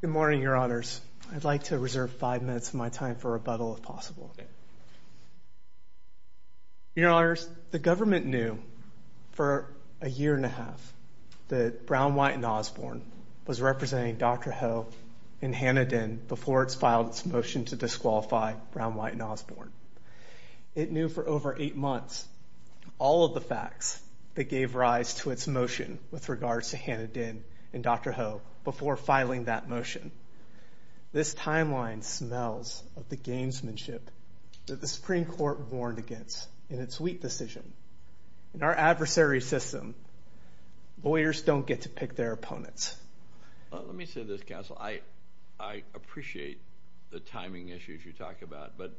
Good morning, Your Honors. I'd like to reserve five minutes of my time for rebuttal, if possible. Your Honors, the government knew for a year and a half that Brown, White, and Osborne was representing Dr. Ho and Hannah Dinn before it's filed its motion to disqualify Brown, White, and Osborne. It knew for over eight months all of the facts that gave rise to its motion with regards to Hannah Dinn and Dr. Ho before filing that motion. This timeline smells of the gamesmanship that the Supreme Court warned against in its Wheat decision. In our adversary system, lawyers don't get to pick their opponents. Let me say this, counsel. I appreciate the timing issues you talk about, but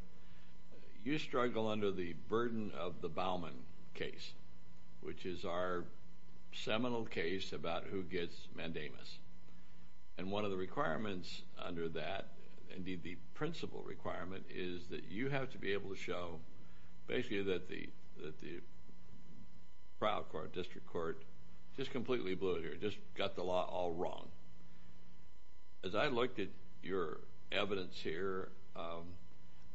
you struggle under the burden of the Bauman case, which is our seminal case about who gets mandamus. One of the requirements under that, indeed the principal requirement, is that you have to be able to show basically that the trial court, district court, just completely blew it here, just got the law all wrong. As I looked at your evidence here,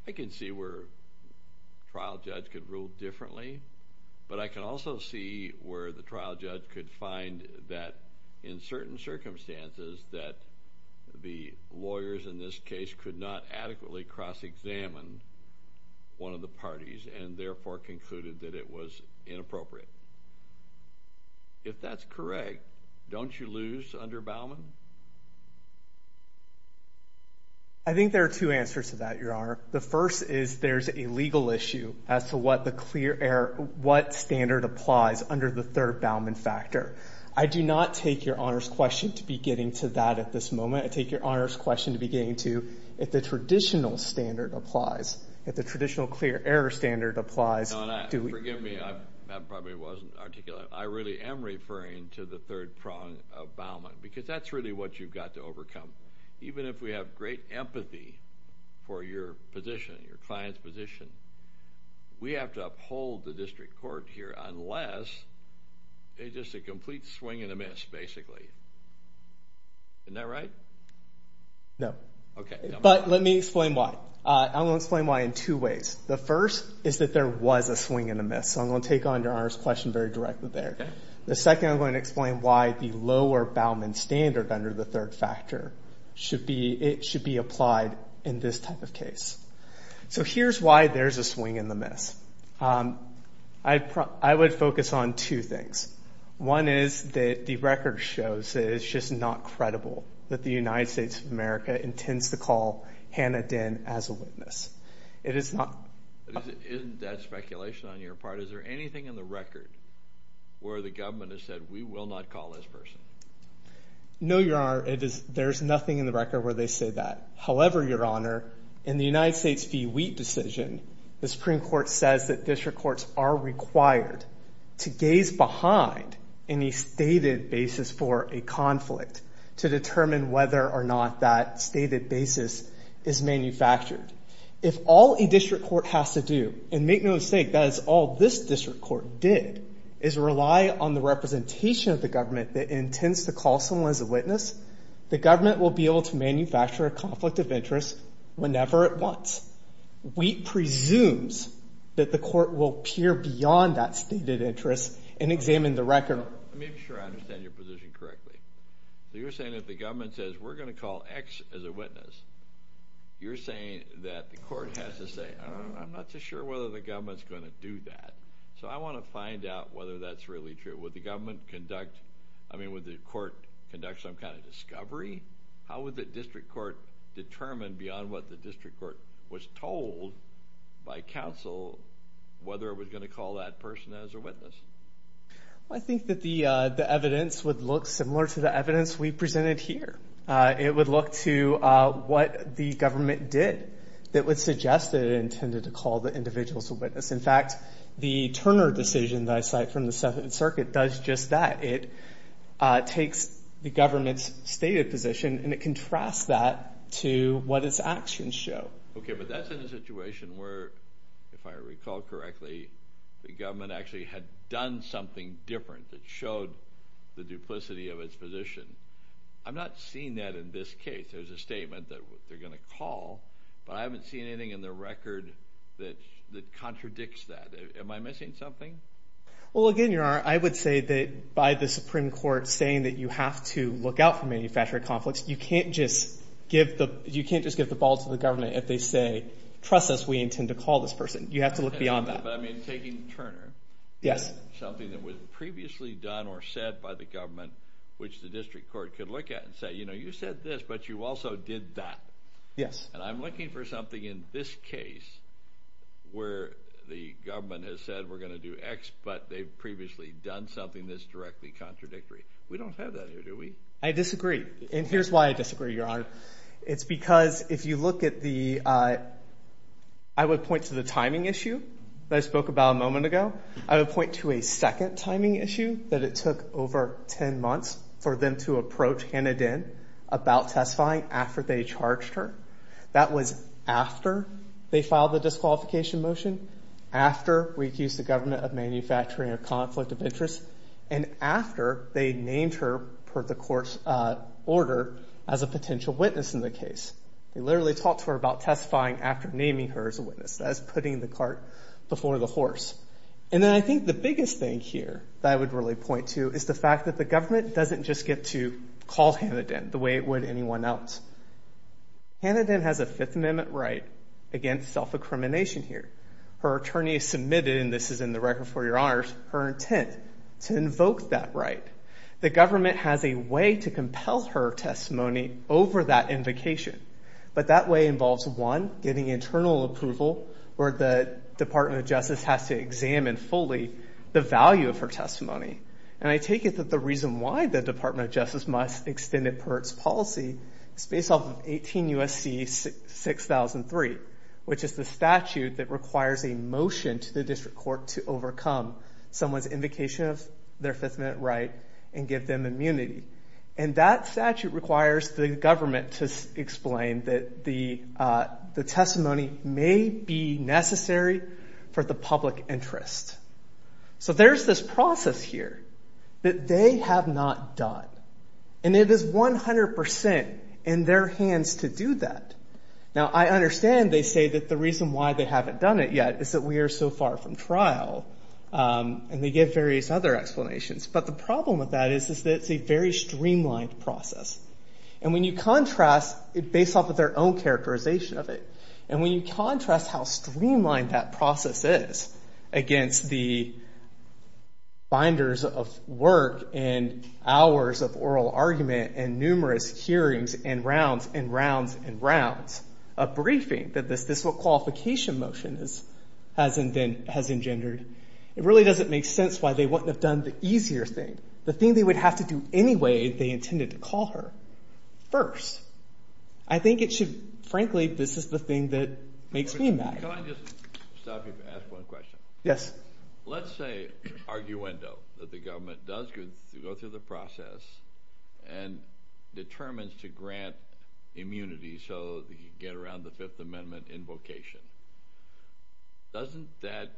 I can see where a trial judge could rule differently, but I can also see where the trial judge could find that in certain circumstances that the lawyers in this case could not adequately cross-examine one of the parties and therefore concluded that it was inappropriate. If that's correct, don't you lose under Bauman? I think there are two answers to that, Your Honor. The first is there's a legal issue as to what standard applies under the third Bauman factor. I do not take Your Honor's question to be getting to that at this moment. I take Your Honor's question to be getting to if the traditional standard applies, if the traditional clear error standard applies. Your Honor, forgive me. That probably wasn't articulate. I really am referring to the third prong of Bauman because that's really what you've got to overcome. Even if we have great empathy for your position, your client's position, we have to uphold the district court here unless it's just a complete swing and a miss, basically. Isn't that right? No. Okay. But let me explain why. I'm going to explain why in two ways. The first is that there was a swing and a miss, so I'm going to take on Your Honor's question very directly there. Okay. The second, I'm going to explain why the lower Bauman standard under the third factor should be applied in this type of case. So here's why there's a swing and a miss. I would focus on two things. One is that the record shows that it's just not credible that the United States of America intends to call Hannah Dinn as a witness. It is not. Isn't that speculation on your part? Or is there anything in the record where the government has said we will not call this person? No, Your Honor. There's nothing in the record where they say that. However, Your Honor, in the United States v. Wheat decision, the Supreme Court says that district courts are required to gaze behind any stated basis for a conflict to determine whether or not that stated basis is manufactured. If all a district court has to do, and make no mistake, that is all this district court did, is rely on the representation of the government that intends to call someone as a witness, the government will be able to manufacture a conflict of interest whenever it wants. Wheat presumes that the court will peer beyond that stated interest and examine the record. Let me make sure I understand your position correctly. You're saying if the government says we're going to call X as a witness, you're saying that the court has to say, I'm not so sure whether the government's going to do that. So I want to find out whether that's really true. Would the government conduct, I mean, would the court conduct some kind of discovery? How would the district court determine beyond what the district court was told by counsel I think that the evidence would look similar to the evidence we presented here. It would look to what the government did that would suggest that it intended to call the individual as a witness. In fact, the Turner decision that I cite from the Seventh Circuit does just that. It takes the government's stated position and it contrasts that to what its actions show. Okay, but that's in a situation where, if I recall correctly, the government actually had done something different that showed the duplicity of its position. I'm not seeing that in this case. There's a statement that they're going to call, but I haven't seen anything in the record that contradicts that. Am I missing something? Well, again, Your Honor, I would say that by the Supreme Court saying that you have to look out for manufactured conflicts, you can't just give the ball to the government if they say, trust us, we intend to call this person. You have to look beyond that. But I mean, taking Turner, something that was previously done or said by the government, which the district court could look at and say, you know, you said this, but you also did that. And I'm looking for something in this case where the government has said we're going to do X, but they've previously done something that's directly contradictory. We don't have that here, do we? I disagree. And here's why I disagree, Your Honor. It's because if you look at the – I would point to the timing issue that I spoke about a moment ago. I would point to a second timing issue that it took over 10 months for them to approach Hannah Dinn about testifying after they charged her. That was after they filed the disqualification motion, and after they named her per the court's order as a potential witness in the case. They literally talked to her about testifying after naming her as a witness. That is putting the cart before the horse. And then I think the biggest thing here that I would really point to is the fact that the government doesn't just get to call Hannah Dinn the way it would anyone else. Hannah Dinn has a Fifth Amendment right against self-incrimination here. to invoke that right. The government has a way to compel her testimony over that invocation, but that way involves, one, getting internal approval, where the Department of Justice has to examine fully the value of her testimony. And I take it that the reason why the Department of Justice must extend it per its policy is based off of 18 U.S.C. 6003, which is the statute that requires a motion to the district court to overcome someone's invocation of their Fifth Amendment right and give them immunity. And that statute requires the government to explain that the testimony may be necessary for the public interest. So there's this process here that they have not done. And it is 100% in their hands to do that. Now, I understand they say that the reason why they haven't done it yet is that we are so far from trial, and they give various other explanations. But the problem with that is that it's a very streamlined process. And when you contrast, based off of their own characterization of it, and when you contrast how streamlined that process is against the binders of work and hours of oral argument and numerous hearings and rounds and rounds and rounds of briefing that this qualification motion has engendered, it really doesn't make sense why they wouldn't have done the easier thing, the thing they would have to do anyway if they intended to call her first. I think it should, frankly, this is the thing that makes me mad. Can I just stop you and ask one question? Yes. Let's say, arguendo, that the government does go through the process and determines to grant immunity so that you can get around the Fifth Amendment invocation. Doesn't that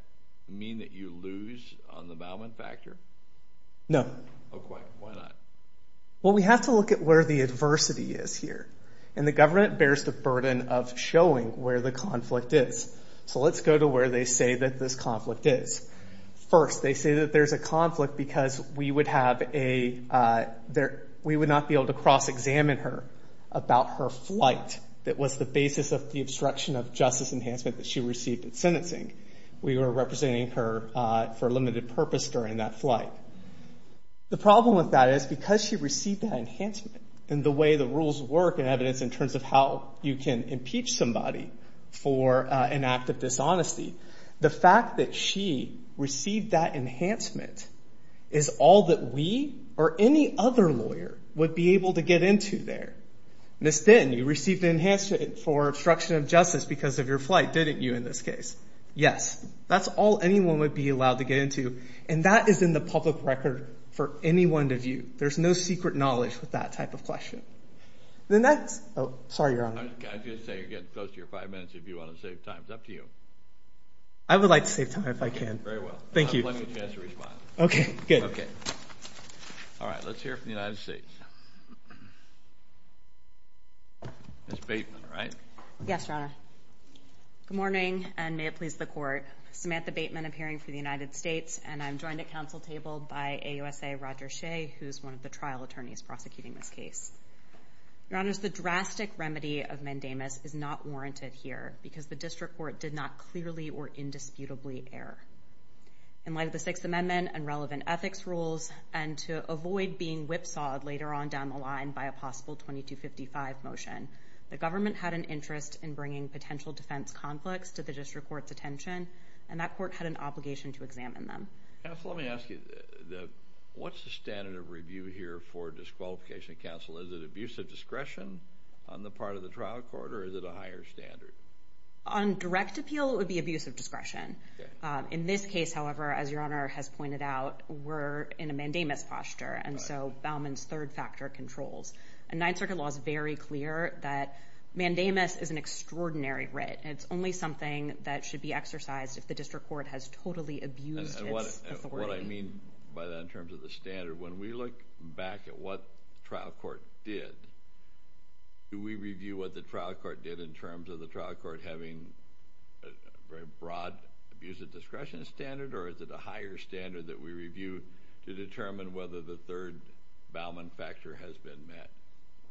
mean that you lose on the violent factor? No. Why not? Well, we have to look at where the adversity is here. And the government bears the burden of showing where the conflict is. So let's go to where they say that this conflict is. First, they say that there's a conflict because we would not be able to cross-examine her about her flight that was the basis of the obstruction of justice enhancement that she received in sentencing. We were representing her for a limited purpose during that flight. The problem with that is because she received that enhancement and the way the rules work in evidence in terms of how you can impeach somebody for an act of dishonesty, the fact that she received that enhancement is all that we or any other lawyer would be able to get into there. Ms. Fenton, you received an enhancement for obstruction of justice because of your flight, didn't you, in this case? Yes. That's all anyone would be allowed to get into, and that is in the public record for anyone to view. There's no secret knowledge with that type of question. The next—oh, sorry, Your Honor. I was going to say you're getting close to your five minutes if you want to save time. It's up to you. I would like to save time if I can. Very well. Thank you. I'll give you a chance to respond. Okay, good. All right, let's hear from the United States. Ms. Bateman, right? Yes, Your Honor. Good morning, and may it please the Court. Samantha Bateman, appearing for the United States, and I'm joined at council table by AUSA Roger Shea, who's one of the trial attorneys prosecuting this case. Your Honors, the drastic remedy of mandamus is not warranted here because the district court did not clearly or indisputably err. In light of the Sixth Amendment and relevant ethics rules, and to avoid being whipsawed later on down the line by a possible 2255 motion, the government had an interest in bringing potential defense conflicts to the district court's attention, and that court had an obligation to examine them. Counsel, let me ask you, what's the standard of review here for disqualification of counsel? Is it abuse of discretion on the part of the trial court, or is it a higher standard? On direct appeal, it would be abuse of discretion. In this case, however, as Your Honor has pointed out, we're in a mandamus posture, and so Bauman's third factor controls. And Ninth Circuit law is very clear that mandamus is an extraordinary writ. It's only something that should be exercised if the district court has totally abused its authority. What I mean by that in terms of the standard, when we look back at what the trial court did, do we review what the trial court did in terms of the trial court having a very broad abuse of discretion standard, or is it a higher standard that we review to determine whether the third Bauman factor has been met?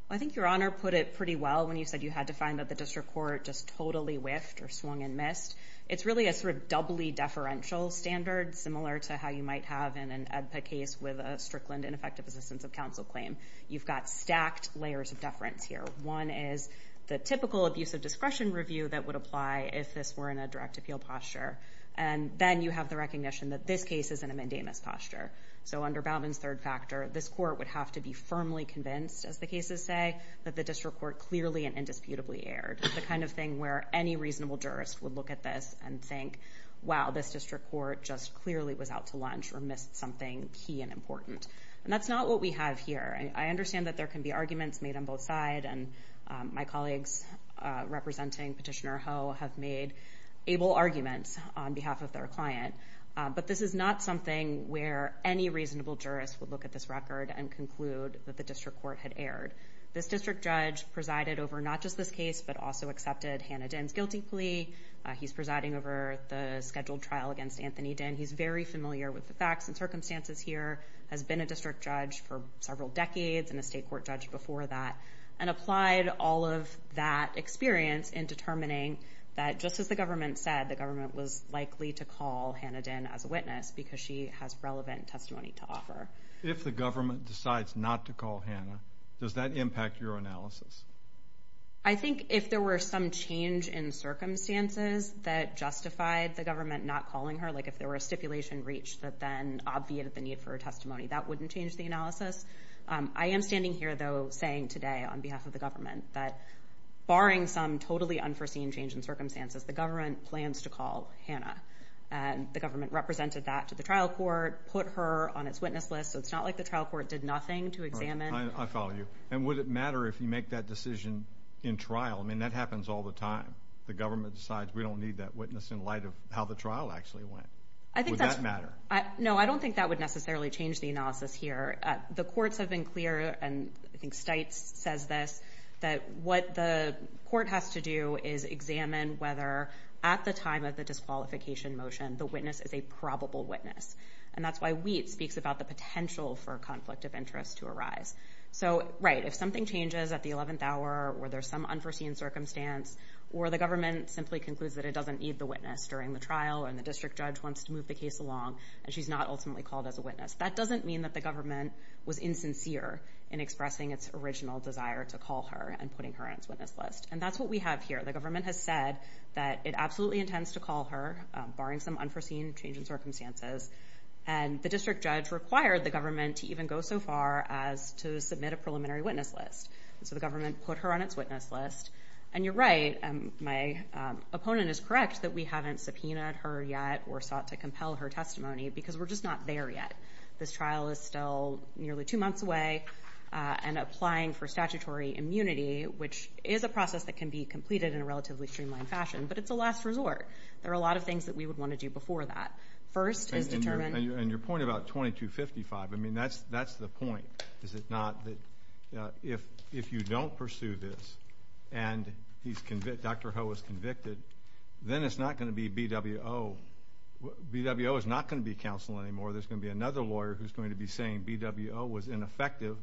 I think Your Honor put it pretty well when you said you had to find that the district court just totally whiffed or swung and missed. It's really a sort of doubly deferential standard, similar to how you might have in an EDPA case with a Strickland ineffective assistance of counsel claim. You've got stacked layers of deference here. One is the typical abuse of discretion review that would apply if this were in a direct appeal posture, and then you have the recognition that this case is in a mandamus posture. So under Bauman's third factor, this court would have to be firmly convinced, as the cases say, that the district court clearly and indisputably erred. It's the kind of thing where any reasonable jurist would look at this and think, wow, this district court just clearly was out to lunch or missed something key and important. And that's not what we have here. I understand that there can be arguments made on both sides, and my colleagues representing Petitioner Ho have made able arguments on behalf of their client, but this is not something where any reasonable jurist would look at this record and conclude that the district court had erred. This district judge presided over not just this case, but also accepted Hannah Dinh's guilty plea. He's presiding over the scheduled trial against Anthony Dinh. He's very familiar with the facts and circumstances here, has been a district judge for several decades and a state court judge before that, and applied all of that experience in determining that, just as the government said, the government was likely to call Hannah Dinh as a witness because she has relevant testimony to offer. If the government decides not to call Hannah, does that impact your analysis? I think if there were some change in circumstances that justified the government not calling her, like if there were a stipulation breach that then obviated the need for her testimony, that wouldn't change the analysis. I am standing here, though, saying today on behalf of the government that barring some totally unforeseen change in circumstances, the government plans to call Hannah, and the government represented that to the trial court, put her on its witness list, so it's not like the trial court did nothing to examine. I follow you. And would it matter if you make that decision in trial? I mean, that happens all the time. The government decides we don't need that witness in light of how the trial actually went. Would that matter? No, I don't think that would necessarily change the analysis here. The courts have been clear, and I think Stites says this, that what the court has to do is examine whether at the time of the disqualification motion the witness is a probable witness, and that's why Wheat speaks about the potential for a conflict of interest to arise. So, right, if something changes at the 11th hour or there's some unforeseen circumstance or the government simply concludes that it doesn't need the witness during the trial and the district judge wants to move the case along and she's not ultimately called as a witness, that doesn't mean that the government was insincere in expressing its original desire to call her and putting her on its witness list. And that's what we have here. The government has said that it absolutely intends to call her barring some unforeseen change in circumstances, and the district judge required the government to even go so far as to submit a preliminary witness list. So the government put her on its witness list, and you're right, my opponent is correct that we haven't subpoenaed her yet or sought to compel her testimony because we're just not there yet. This trial is still nearly two months away and applying for statutory immunity, which is a process that can be completed in a relatively streamlined fashion, but it's a last resort. There are a lot of things that we would want to do before that. First is determine... Is it not that if you don't pursue this and Dr. Ho is convicted, then it's not going to be BWO. BWO is not going to be counsel anymore. There's going to be another lawyer who's going to be saying BWO was ineffective.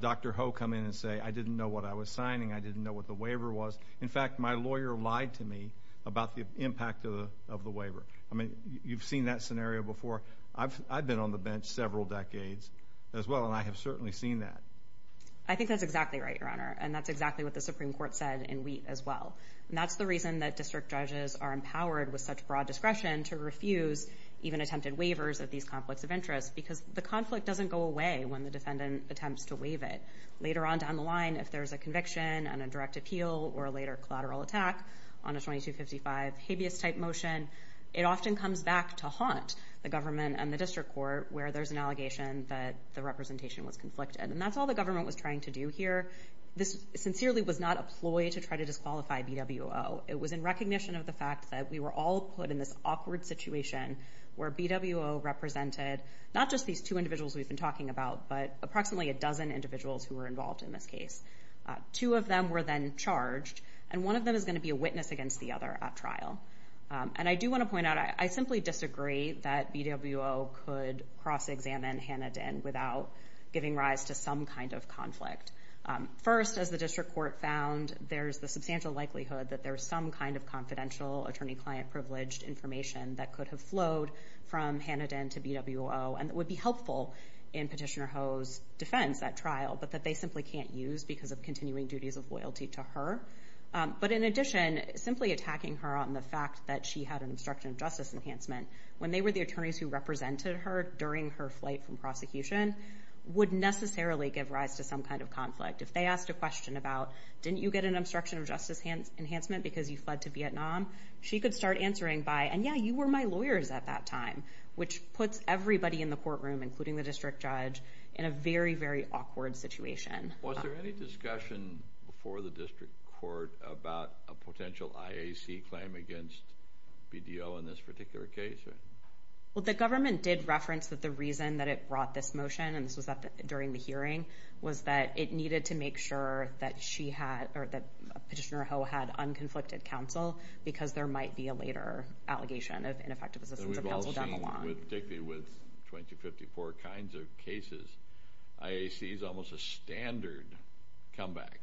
Dr. Ho come in and say, I didn't know what I was signing, I didn't know what the waiver was. In fact, my lawyer lied to me about the impact of the waiver. I mean, you've seen that scenario before. I've been on the bench several decades as well, and I have certainly seen that. I think that's exactly right, Your Honor. And that's exactly what the Supreme Court said in Wheat as well. And that's the reason that district judges are empowered with such broad discretion to refuse even attempted waivers of these conflicts of interest because the conflict doesn't go away when the defendant attempts to waive it. Later on down the line, if there's a conviction and a direct appeal or a later collateral attack on a 2255 habeas type motion, it often comes back to haunt the government and the district court where there's an allegation that the representation was conflicted. And that's all the government was trying to do here. This sincerely was not a ploy to try to disqualify BWO. It was in recognition of the fact that we were all put in this awkward situation where BWO represented not just these two individuals we've been talking about, but approximately a dozen individuals who were involved in this case. Two of them were then charged, and one of them is going to be a witness against the other at trial. And I do want to point out, I simply disagree that BWO could cross-examine Hannah Dinn without giving rise to some kind of conflict. First, as the district court found, there's the substantial likelihood that there's some kind of confidential attorney-client-privileged information that could have flowed from Hannah Dinn to BWO and that would be helpful in Petitioner Ho's defense at trial, but that they simply can't use because of continuing duties of loyalty to her. But in addition, simply attacking her without the fact that she had an obstruction of justice enhancement, when they were the attorneys who represented her during her flight from prosecution, would necessarily give rise to some kind of conflict. If they asked a question about, didn't you get an obstruction of justice enhancement because you fled to Vietnam? She could start answering by, and yeah, you were my lawyers at that time, which puts everybody in the courtroom, including the district judge, in a very, very awkward situation. Was there any discussion before the district court about a potential IAC claim against BDO in this particular case? Well, the government did reference that the reason that it brought this motion, and this was during the hearing, was that it needed to make sure that she had, or that Petitioner Ho had unconflicted counsel because there might be a later allegation of ineffective assistance of counsel down the line. We've all seen, particularly with 2054 kinds of cases, IAC is almost a standard comeback.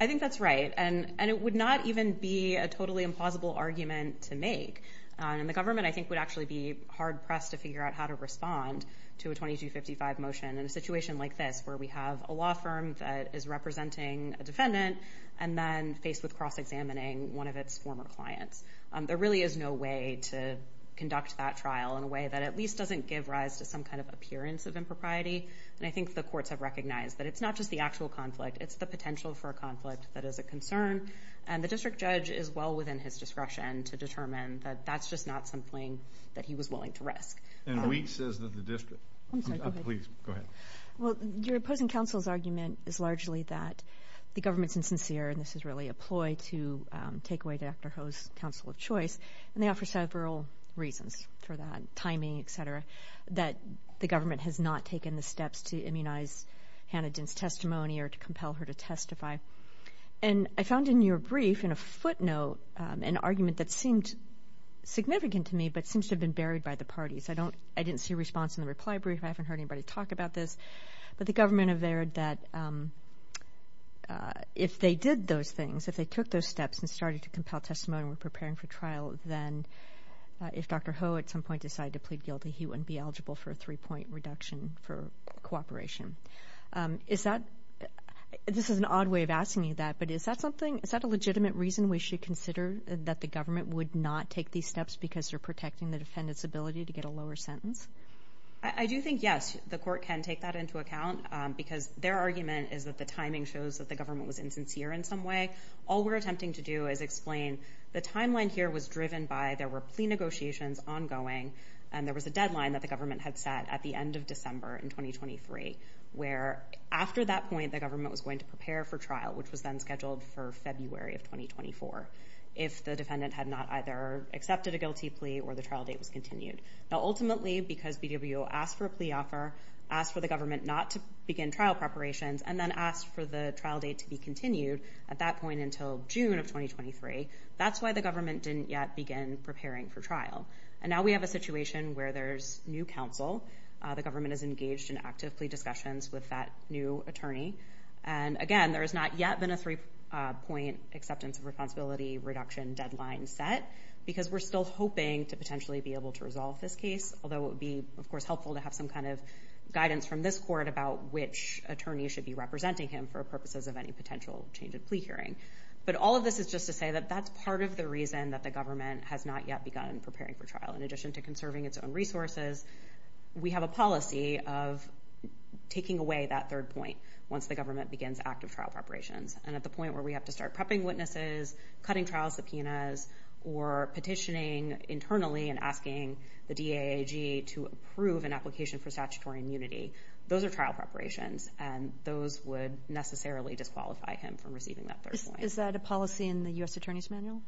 I think that's right. And it would not even be a totally implausible argument to make. And the government, I think, would actually be hard-pressed to figure out how to respond to a 2255 motion in a situation like this, where we have a law firm that is representing a defendant and then faced with cross-examining one of its former clients. There really is no way to conduct that trial in a way that at least doesn't give rise to some kind of appearance of impropriety. And I think the courts have recognized that it's not just the actual conflict, it's the potential for a conflict that is a concern, and the district judge is well within his discretion to determine that that's just not something that he was willing to risk. And Wheat says that the district... I'm sorry, go ahead. Please, go ahead. Well, your opposing counsel's argument is largely that the government's insincere, and this is really a ploy to take away Dr. Ho's counsel of choice, and they offer several reasons for that, timing, et cetera, that the government has not taken the steps to immunize Hannah Dent's testimony or to compel her to testify. And I found in your brief, in a footnote, an argument that seemed significant to me but seems to have been buried by the parties. I didn't see a response in the reply brief. I haven't heard anybody talk about this. But the government averred that if they did those things, if they took those steps and started to compel testimony and were preparing for trial, then if Dr. Ho at some point decided to plead guilty, he wouldn't be eligible for a three-point reduction for cooperation. Is that... This is an odd way of asking you that, but is that something, is that a legitimate reason we should consider that the government would not take these steps because they're protecting the defendant's ability to get a lower sentence? I do think, yes, the court can take that into account because their argument is that the timing shows that the government was insincere in some way. All we're attempting to do is explain the timeline here was driven by there were plea negotiations ongoing and there was a deadline that the government had set at the end of December in 2023. Where after that point, the government was going to prepare for trial, which was then scheduled for February of 2024, if the defendant had not either accepted a guilty plea or the trial date was continued. Now, ultimately, because BWO asked for a plea offer, asked for the government not to begin trial preparations, and then asked for the trial date to be continued at that point until June of 2023, that's why the government didn't yet begin preparing for trial. And now we have a situation where there's new counsel, the government is engaged in active plea discussions with that new attorney. And again, there has not yet been a three-point acceptance of responsibility reduction deadline set because we're still hoping to potentially be able to resolve this case, although it would be, of course, helpful to have some kind of guidance from this court about which attorney should be representing him for purposes of any potential change of plea hearing. But all of this is just to say that that's part of the reason that the government has not yet begun preparing for trial. In addition to conserving its own resources, we have a policy of taking away that third point once the government begins active trial preparations. And at the point where we have to start prepping witnesses, cutting trial subpoenas, or petitioning internally and asking the DAG to approve an application for statutory immunity, those are trial preparations, and those would necessarily disqualify him from receiving that third point. Is that a policy in the U.S. Attorney's Manual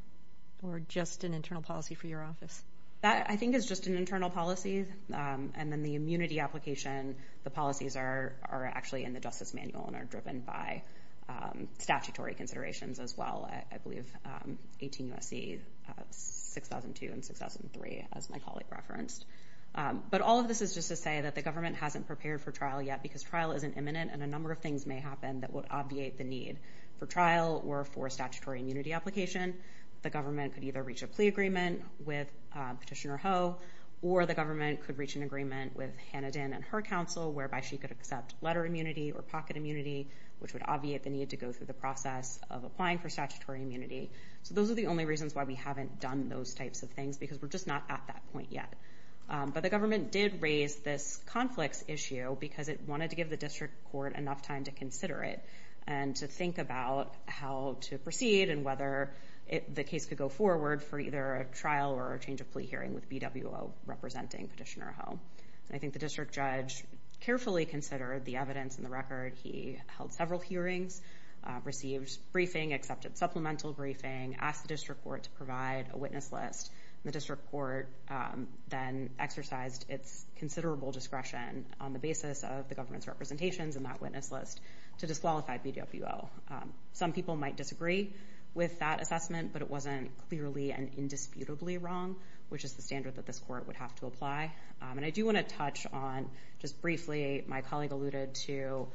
or just an internal policy for your office? That, I think, is just an internal policy. And then the immunity application, the policies are actually in the Justice Manual and are driven by statutory considerations as well. I believe 18 U.S.C. 6002 and 6003, as my colleague referenced. But all of this is just to say that the government hasn't prepared for trial yet because trial isn't imminent and a number of things may happen that would obviate the need for trial or for statutory immunity application. The government could either reach a plea agreement with Petitioner Ho, or the government could reach an agreement with Hannah Dinn and her counsel, whereby she could accept letter immunity or pocket immunity, which would obviate the need to go through the process of applying for statutory immunity. So those are the only reasons why we haven't done those types of things because we're just not at that point yet. But the government did raise this conflicts issue because it wanted to give the district court enough time to consider it and to think about how to proceed and whether the case could go forward for either a trial or a change of plea hearing with BWO representing Petitioner Ho. I think the district judge carefully considered the evidence in the record. He held several hearings, received briefing, accepted supplemental briefing, asked the district court to provide a witness list. The district court then exercised its considerable discretion on the basis of the government's representations in that witness list to disqualify BWO. Some people might disagree with that assessment, but it wasn't clearly and indisputably wrong, which is the standard that this court would have to apply. And I do want to touch on, just briefly, my colleague alluded to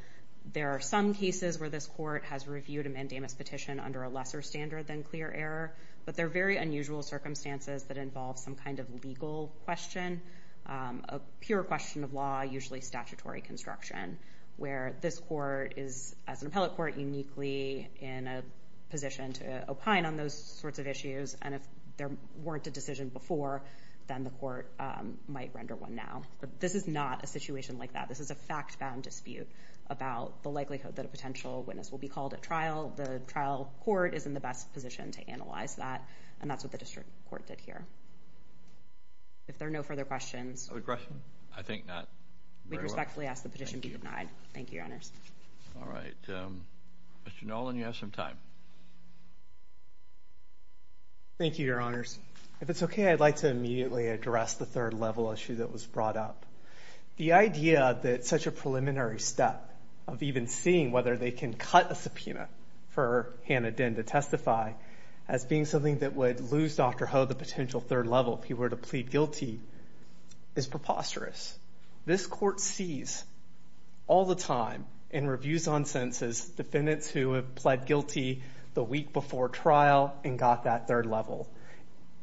there are some cases where this court has reviewed a mandamus petition under a lesser standard than clear error, but they're very unusual circumstances that involve some kind of legal question, a pure question of law, usually statutory construction, where this court is, as an appellate court, not uniquely in a position to opine on those sorts of issues, and if there weren't a decision before, then the court might render one now. But this is not a situation like that. This is a fact-bound dispute about the likelihood that a potential witness will be called at trial. The trial court is in the best position to analyze that, and that's what the district court did here. If there are no further questions... We respectfully ask the petition be denied. Thank you. Thank you, Your Honors. All right. Mr. Nolan, you have some time. Thank you, Your Honors. If it's okay, I'd like to immediately address the third-level issue that was brought up. The idea that such a preliminary step of even seeing whether they can cut a subpoena for Hannah Dinn to testify as being something that would lose Dr. Ho the potential third level if he were to plead guilty is preposterous. This court sees all the time in reviews on sentences defendants who have pled guilty the week before trial and got that third level,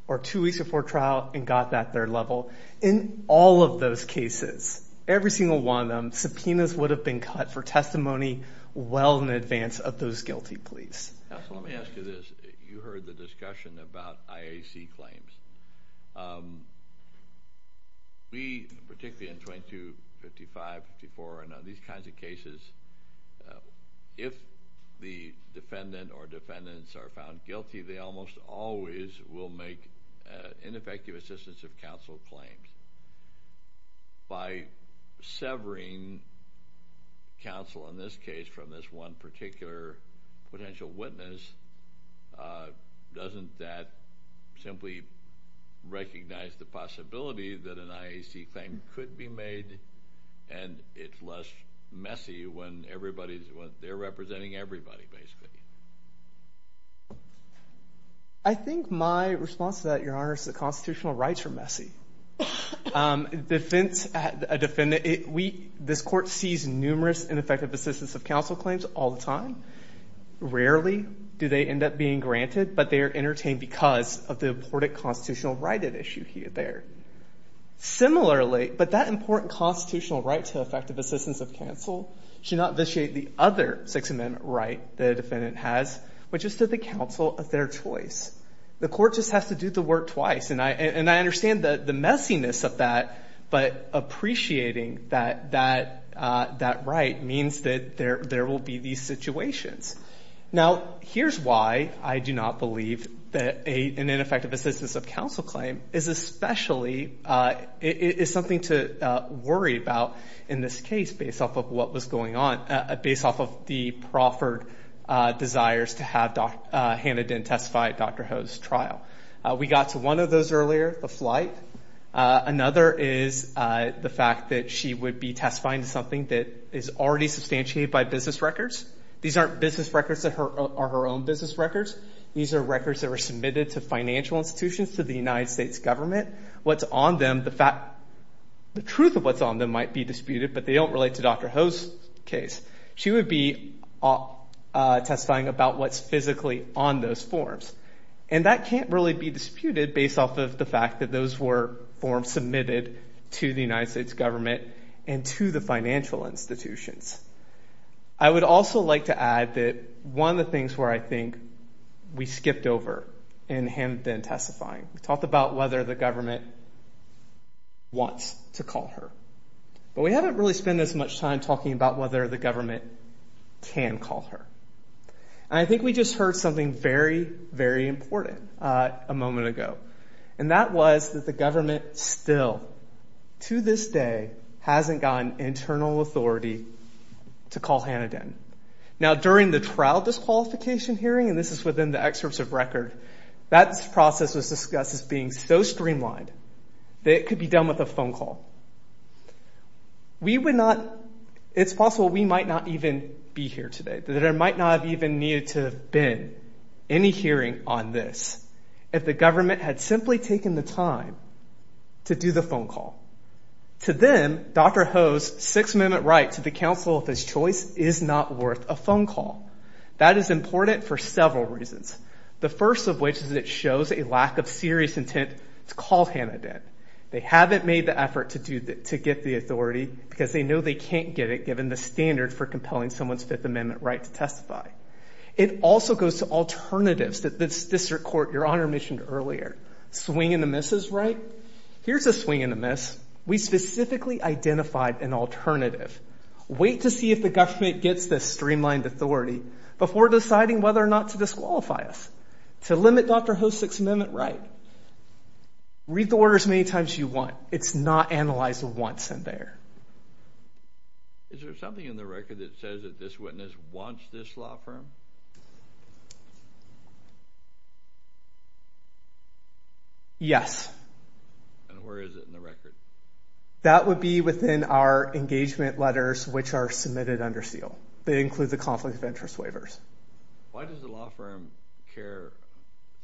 or two weeks before trial and got that third level. In all of those cases, every single one of them, subpoenas would have been cut for testimony well in advance of those guilty pleas. Let me ask you this. You heard the discussion about IAC claims. We, particularly in 22, 55, 54, and these kinds of cases, if the defendant or defendants are found guilty, they almost always will make ineffective assistance of counsel claims. By severing counsel, in this case, from this one particular potential witness, doesn't that simply recognize the possibility that an IAC claim could be made and it's less messy when they're representing everybody, basically? I think my response to that, Your Honor, is that constitutional rights are messy. This court sees numerous ineffective assistance of counsel claims all the time. Rarely do they end up being granted, but they are entertained because of the important constitutional right at issue there. Similarly, but that important constitutional right to effective assistance of counsel should not vitiate the other Sixth Amendment right that a defendant has, which is to the counsel of their choice. The court just has to do the work twice, and I understand the messiness of that, but appreciating that right means that there will be these situations. Now, here's why I do not believe that an ineffective assistance of counsel claim is something to worry about in this case based off of what was going on, based off of the proffered desires to have Hannah Dent testify at Dr. Ho's trial. We got to one of those earlier, the flight. Another is the fact that she would be testifying to something that is already substantiated by business records. These aren't business records that are her own business records. These are records that were submitted to financial institutions, to the United States government. What's on them, the truth of what's on them might be disputed, but they don't relate to Dr. Ho's case. She would be testifying about what's physically on those forms, and that can't really be disputed based off of the fact that those were forms submitted to the United States government and to the financial institutions. I would also like to add that one of the things where I think we skipped over in Hannah Dent testifying, we talked about whether the government wants to call her, but we haven't really spent as much time talking about whether the government can call her. And I think we just heard something very, very important a moment ago, and that was that the government still, to this day, hasn't gotten internal authority to call Hannah Dent. Now, during the trial disqualification hearing, and this is within the excerpts of record, that process was discussed as being so streamlined that it could be done with a phone call. We would not, it's possible we might not even be here today, that there might not have even needed to have been any hearing on this if the government had simply taken the time to do the phone call. To them, Dr. Ho's Sixth Amendment right to the counsel of his choice is not worth a phone call. That is important for several reasons, the first of which is that it shows a lack of serious intent to call Hannah Dent. They haven't made the effort to get the authority because they know they can't get it given the standard for compelling someone's Fifth Amendment right to testify. It also goes to alternatives that the district court, Your Honor, mentioned earlier. Swing and a miss is right. Here's a swing and a miss. We specifically identified an alternative. Wait to see if the government gets this streamlined authority before deciding whether or not to disqualify us. To limit Dr. Ho's Sixth Amendment right, read the order as many times as you want. It's not analyzed once in there. Is there something in the record that says that this witness wants this law firm? Yes. And where is it in the record? That would be within our engagement letters which are submitted under seal. They include the conflict of interest waivers. Why does the law firm care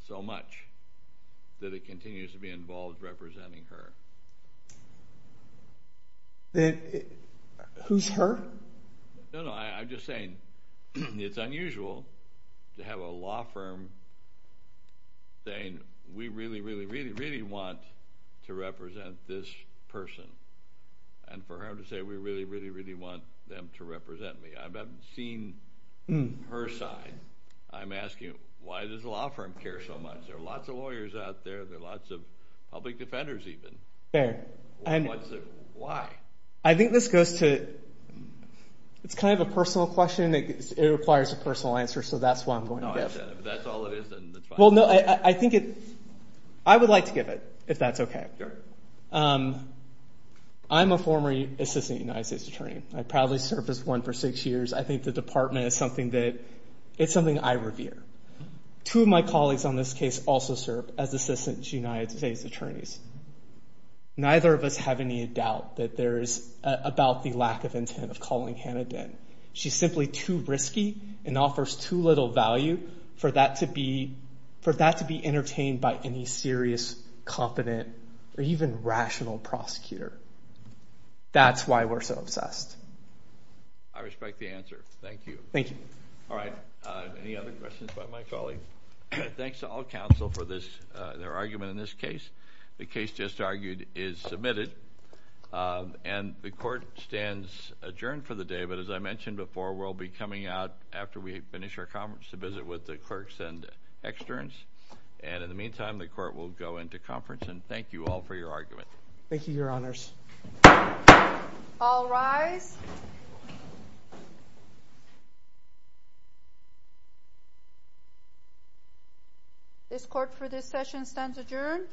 so much that it continues to be involved representing her? Who's her? No, no, I'm just saying it's unusual to have a law firm saying we really, really, really, really want to represent this person. And for her to say we really, really, really want them to represent me. I haven't seen her side. I'm asking why does the law firm care so much? There are lots of lawyers out there. There are lots of public defenders even. Fair. Why? I think this goes to, it's kind of a personal question. It requires a personal answer, so that's why I'm going to guess. If that's all it is, then that's fine. Well, no, I think it, I would like to give it, if that's okay. Sure. I'm a former assistant United States attorney. I proudly served as one for six years. I think the department is something that, it's something I revere. Two of my colleagues on this case also served as assistant United States attorneys. Neither of us have any doubt that there is about the lack of intent of calling Hannah Dinn. She's simply too risky and offers too little value for that to be, for that to be entertained by any serious, confident, or even rational prosecutor. That's why we're so obsessed. I respect the answer. Thank you. Thank you. All right. Any other questions about my colleague? Thanks to all counsel for this, their argument in this case. The case just argued is submitted, and the court stands adjourned for the day, but as I mentioned before, we'll be coming out after we finish our conference, to visit with the clerks and externs, and in the meantime, the court will go into conference, and thank you all for your argument. Thank you, Your Honors. All rise. This court for this session stands adjourned.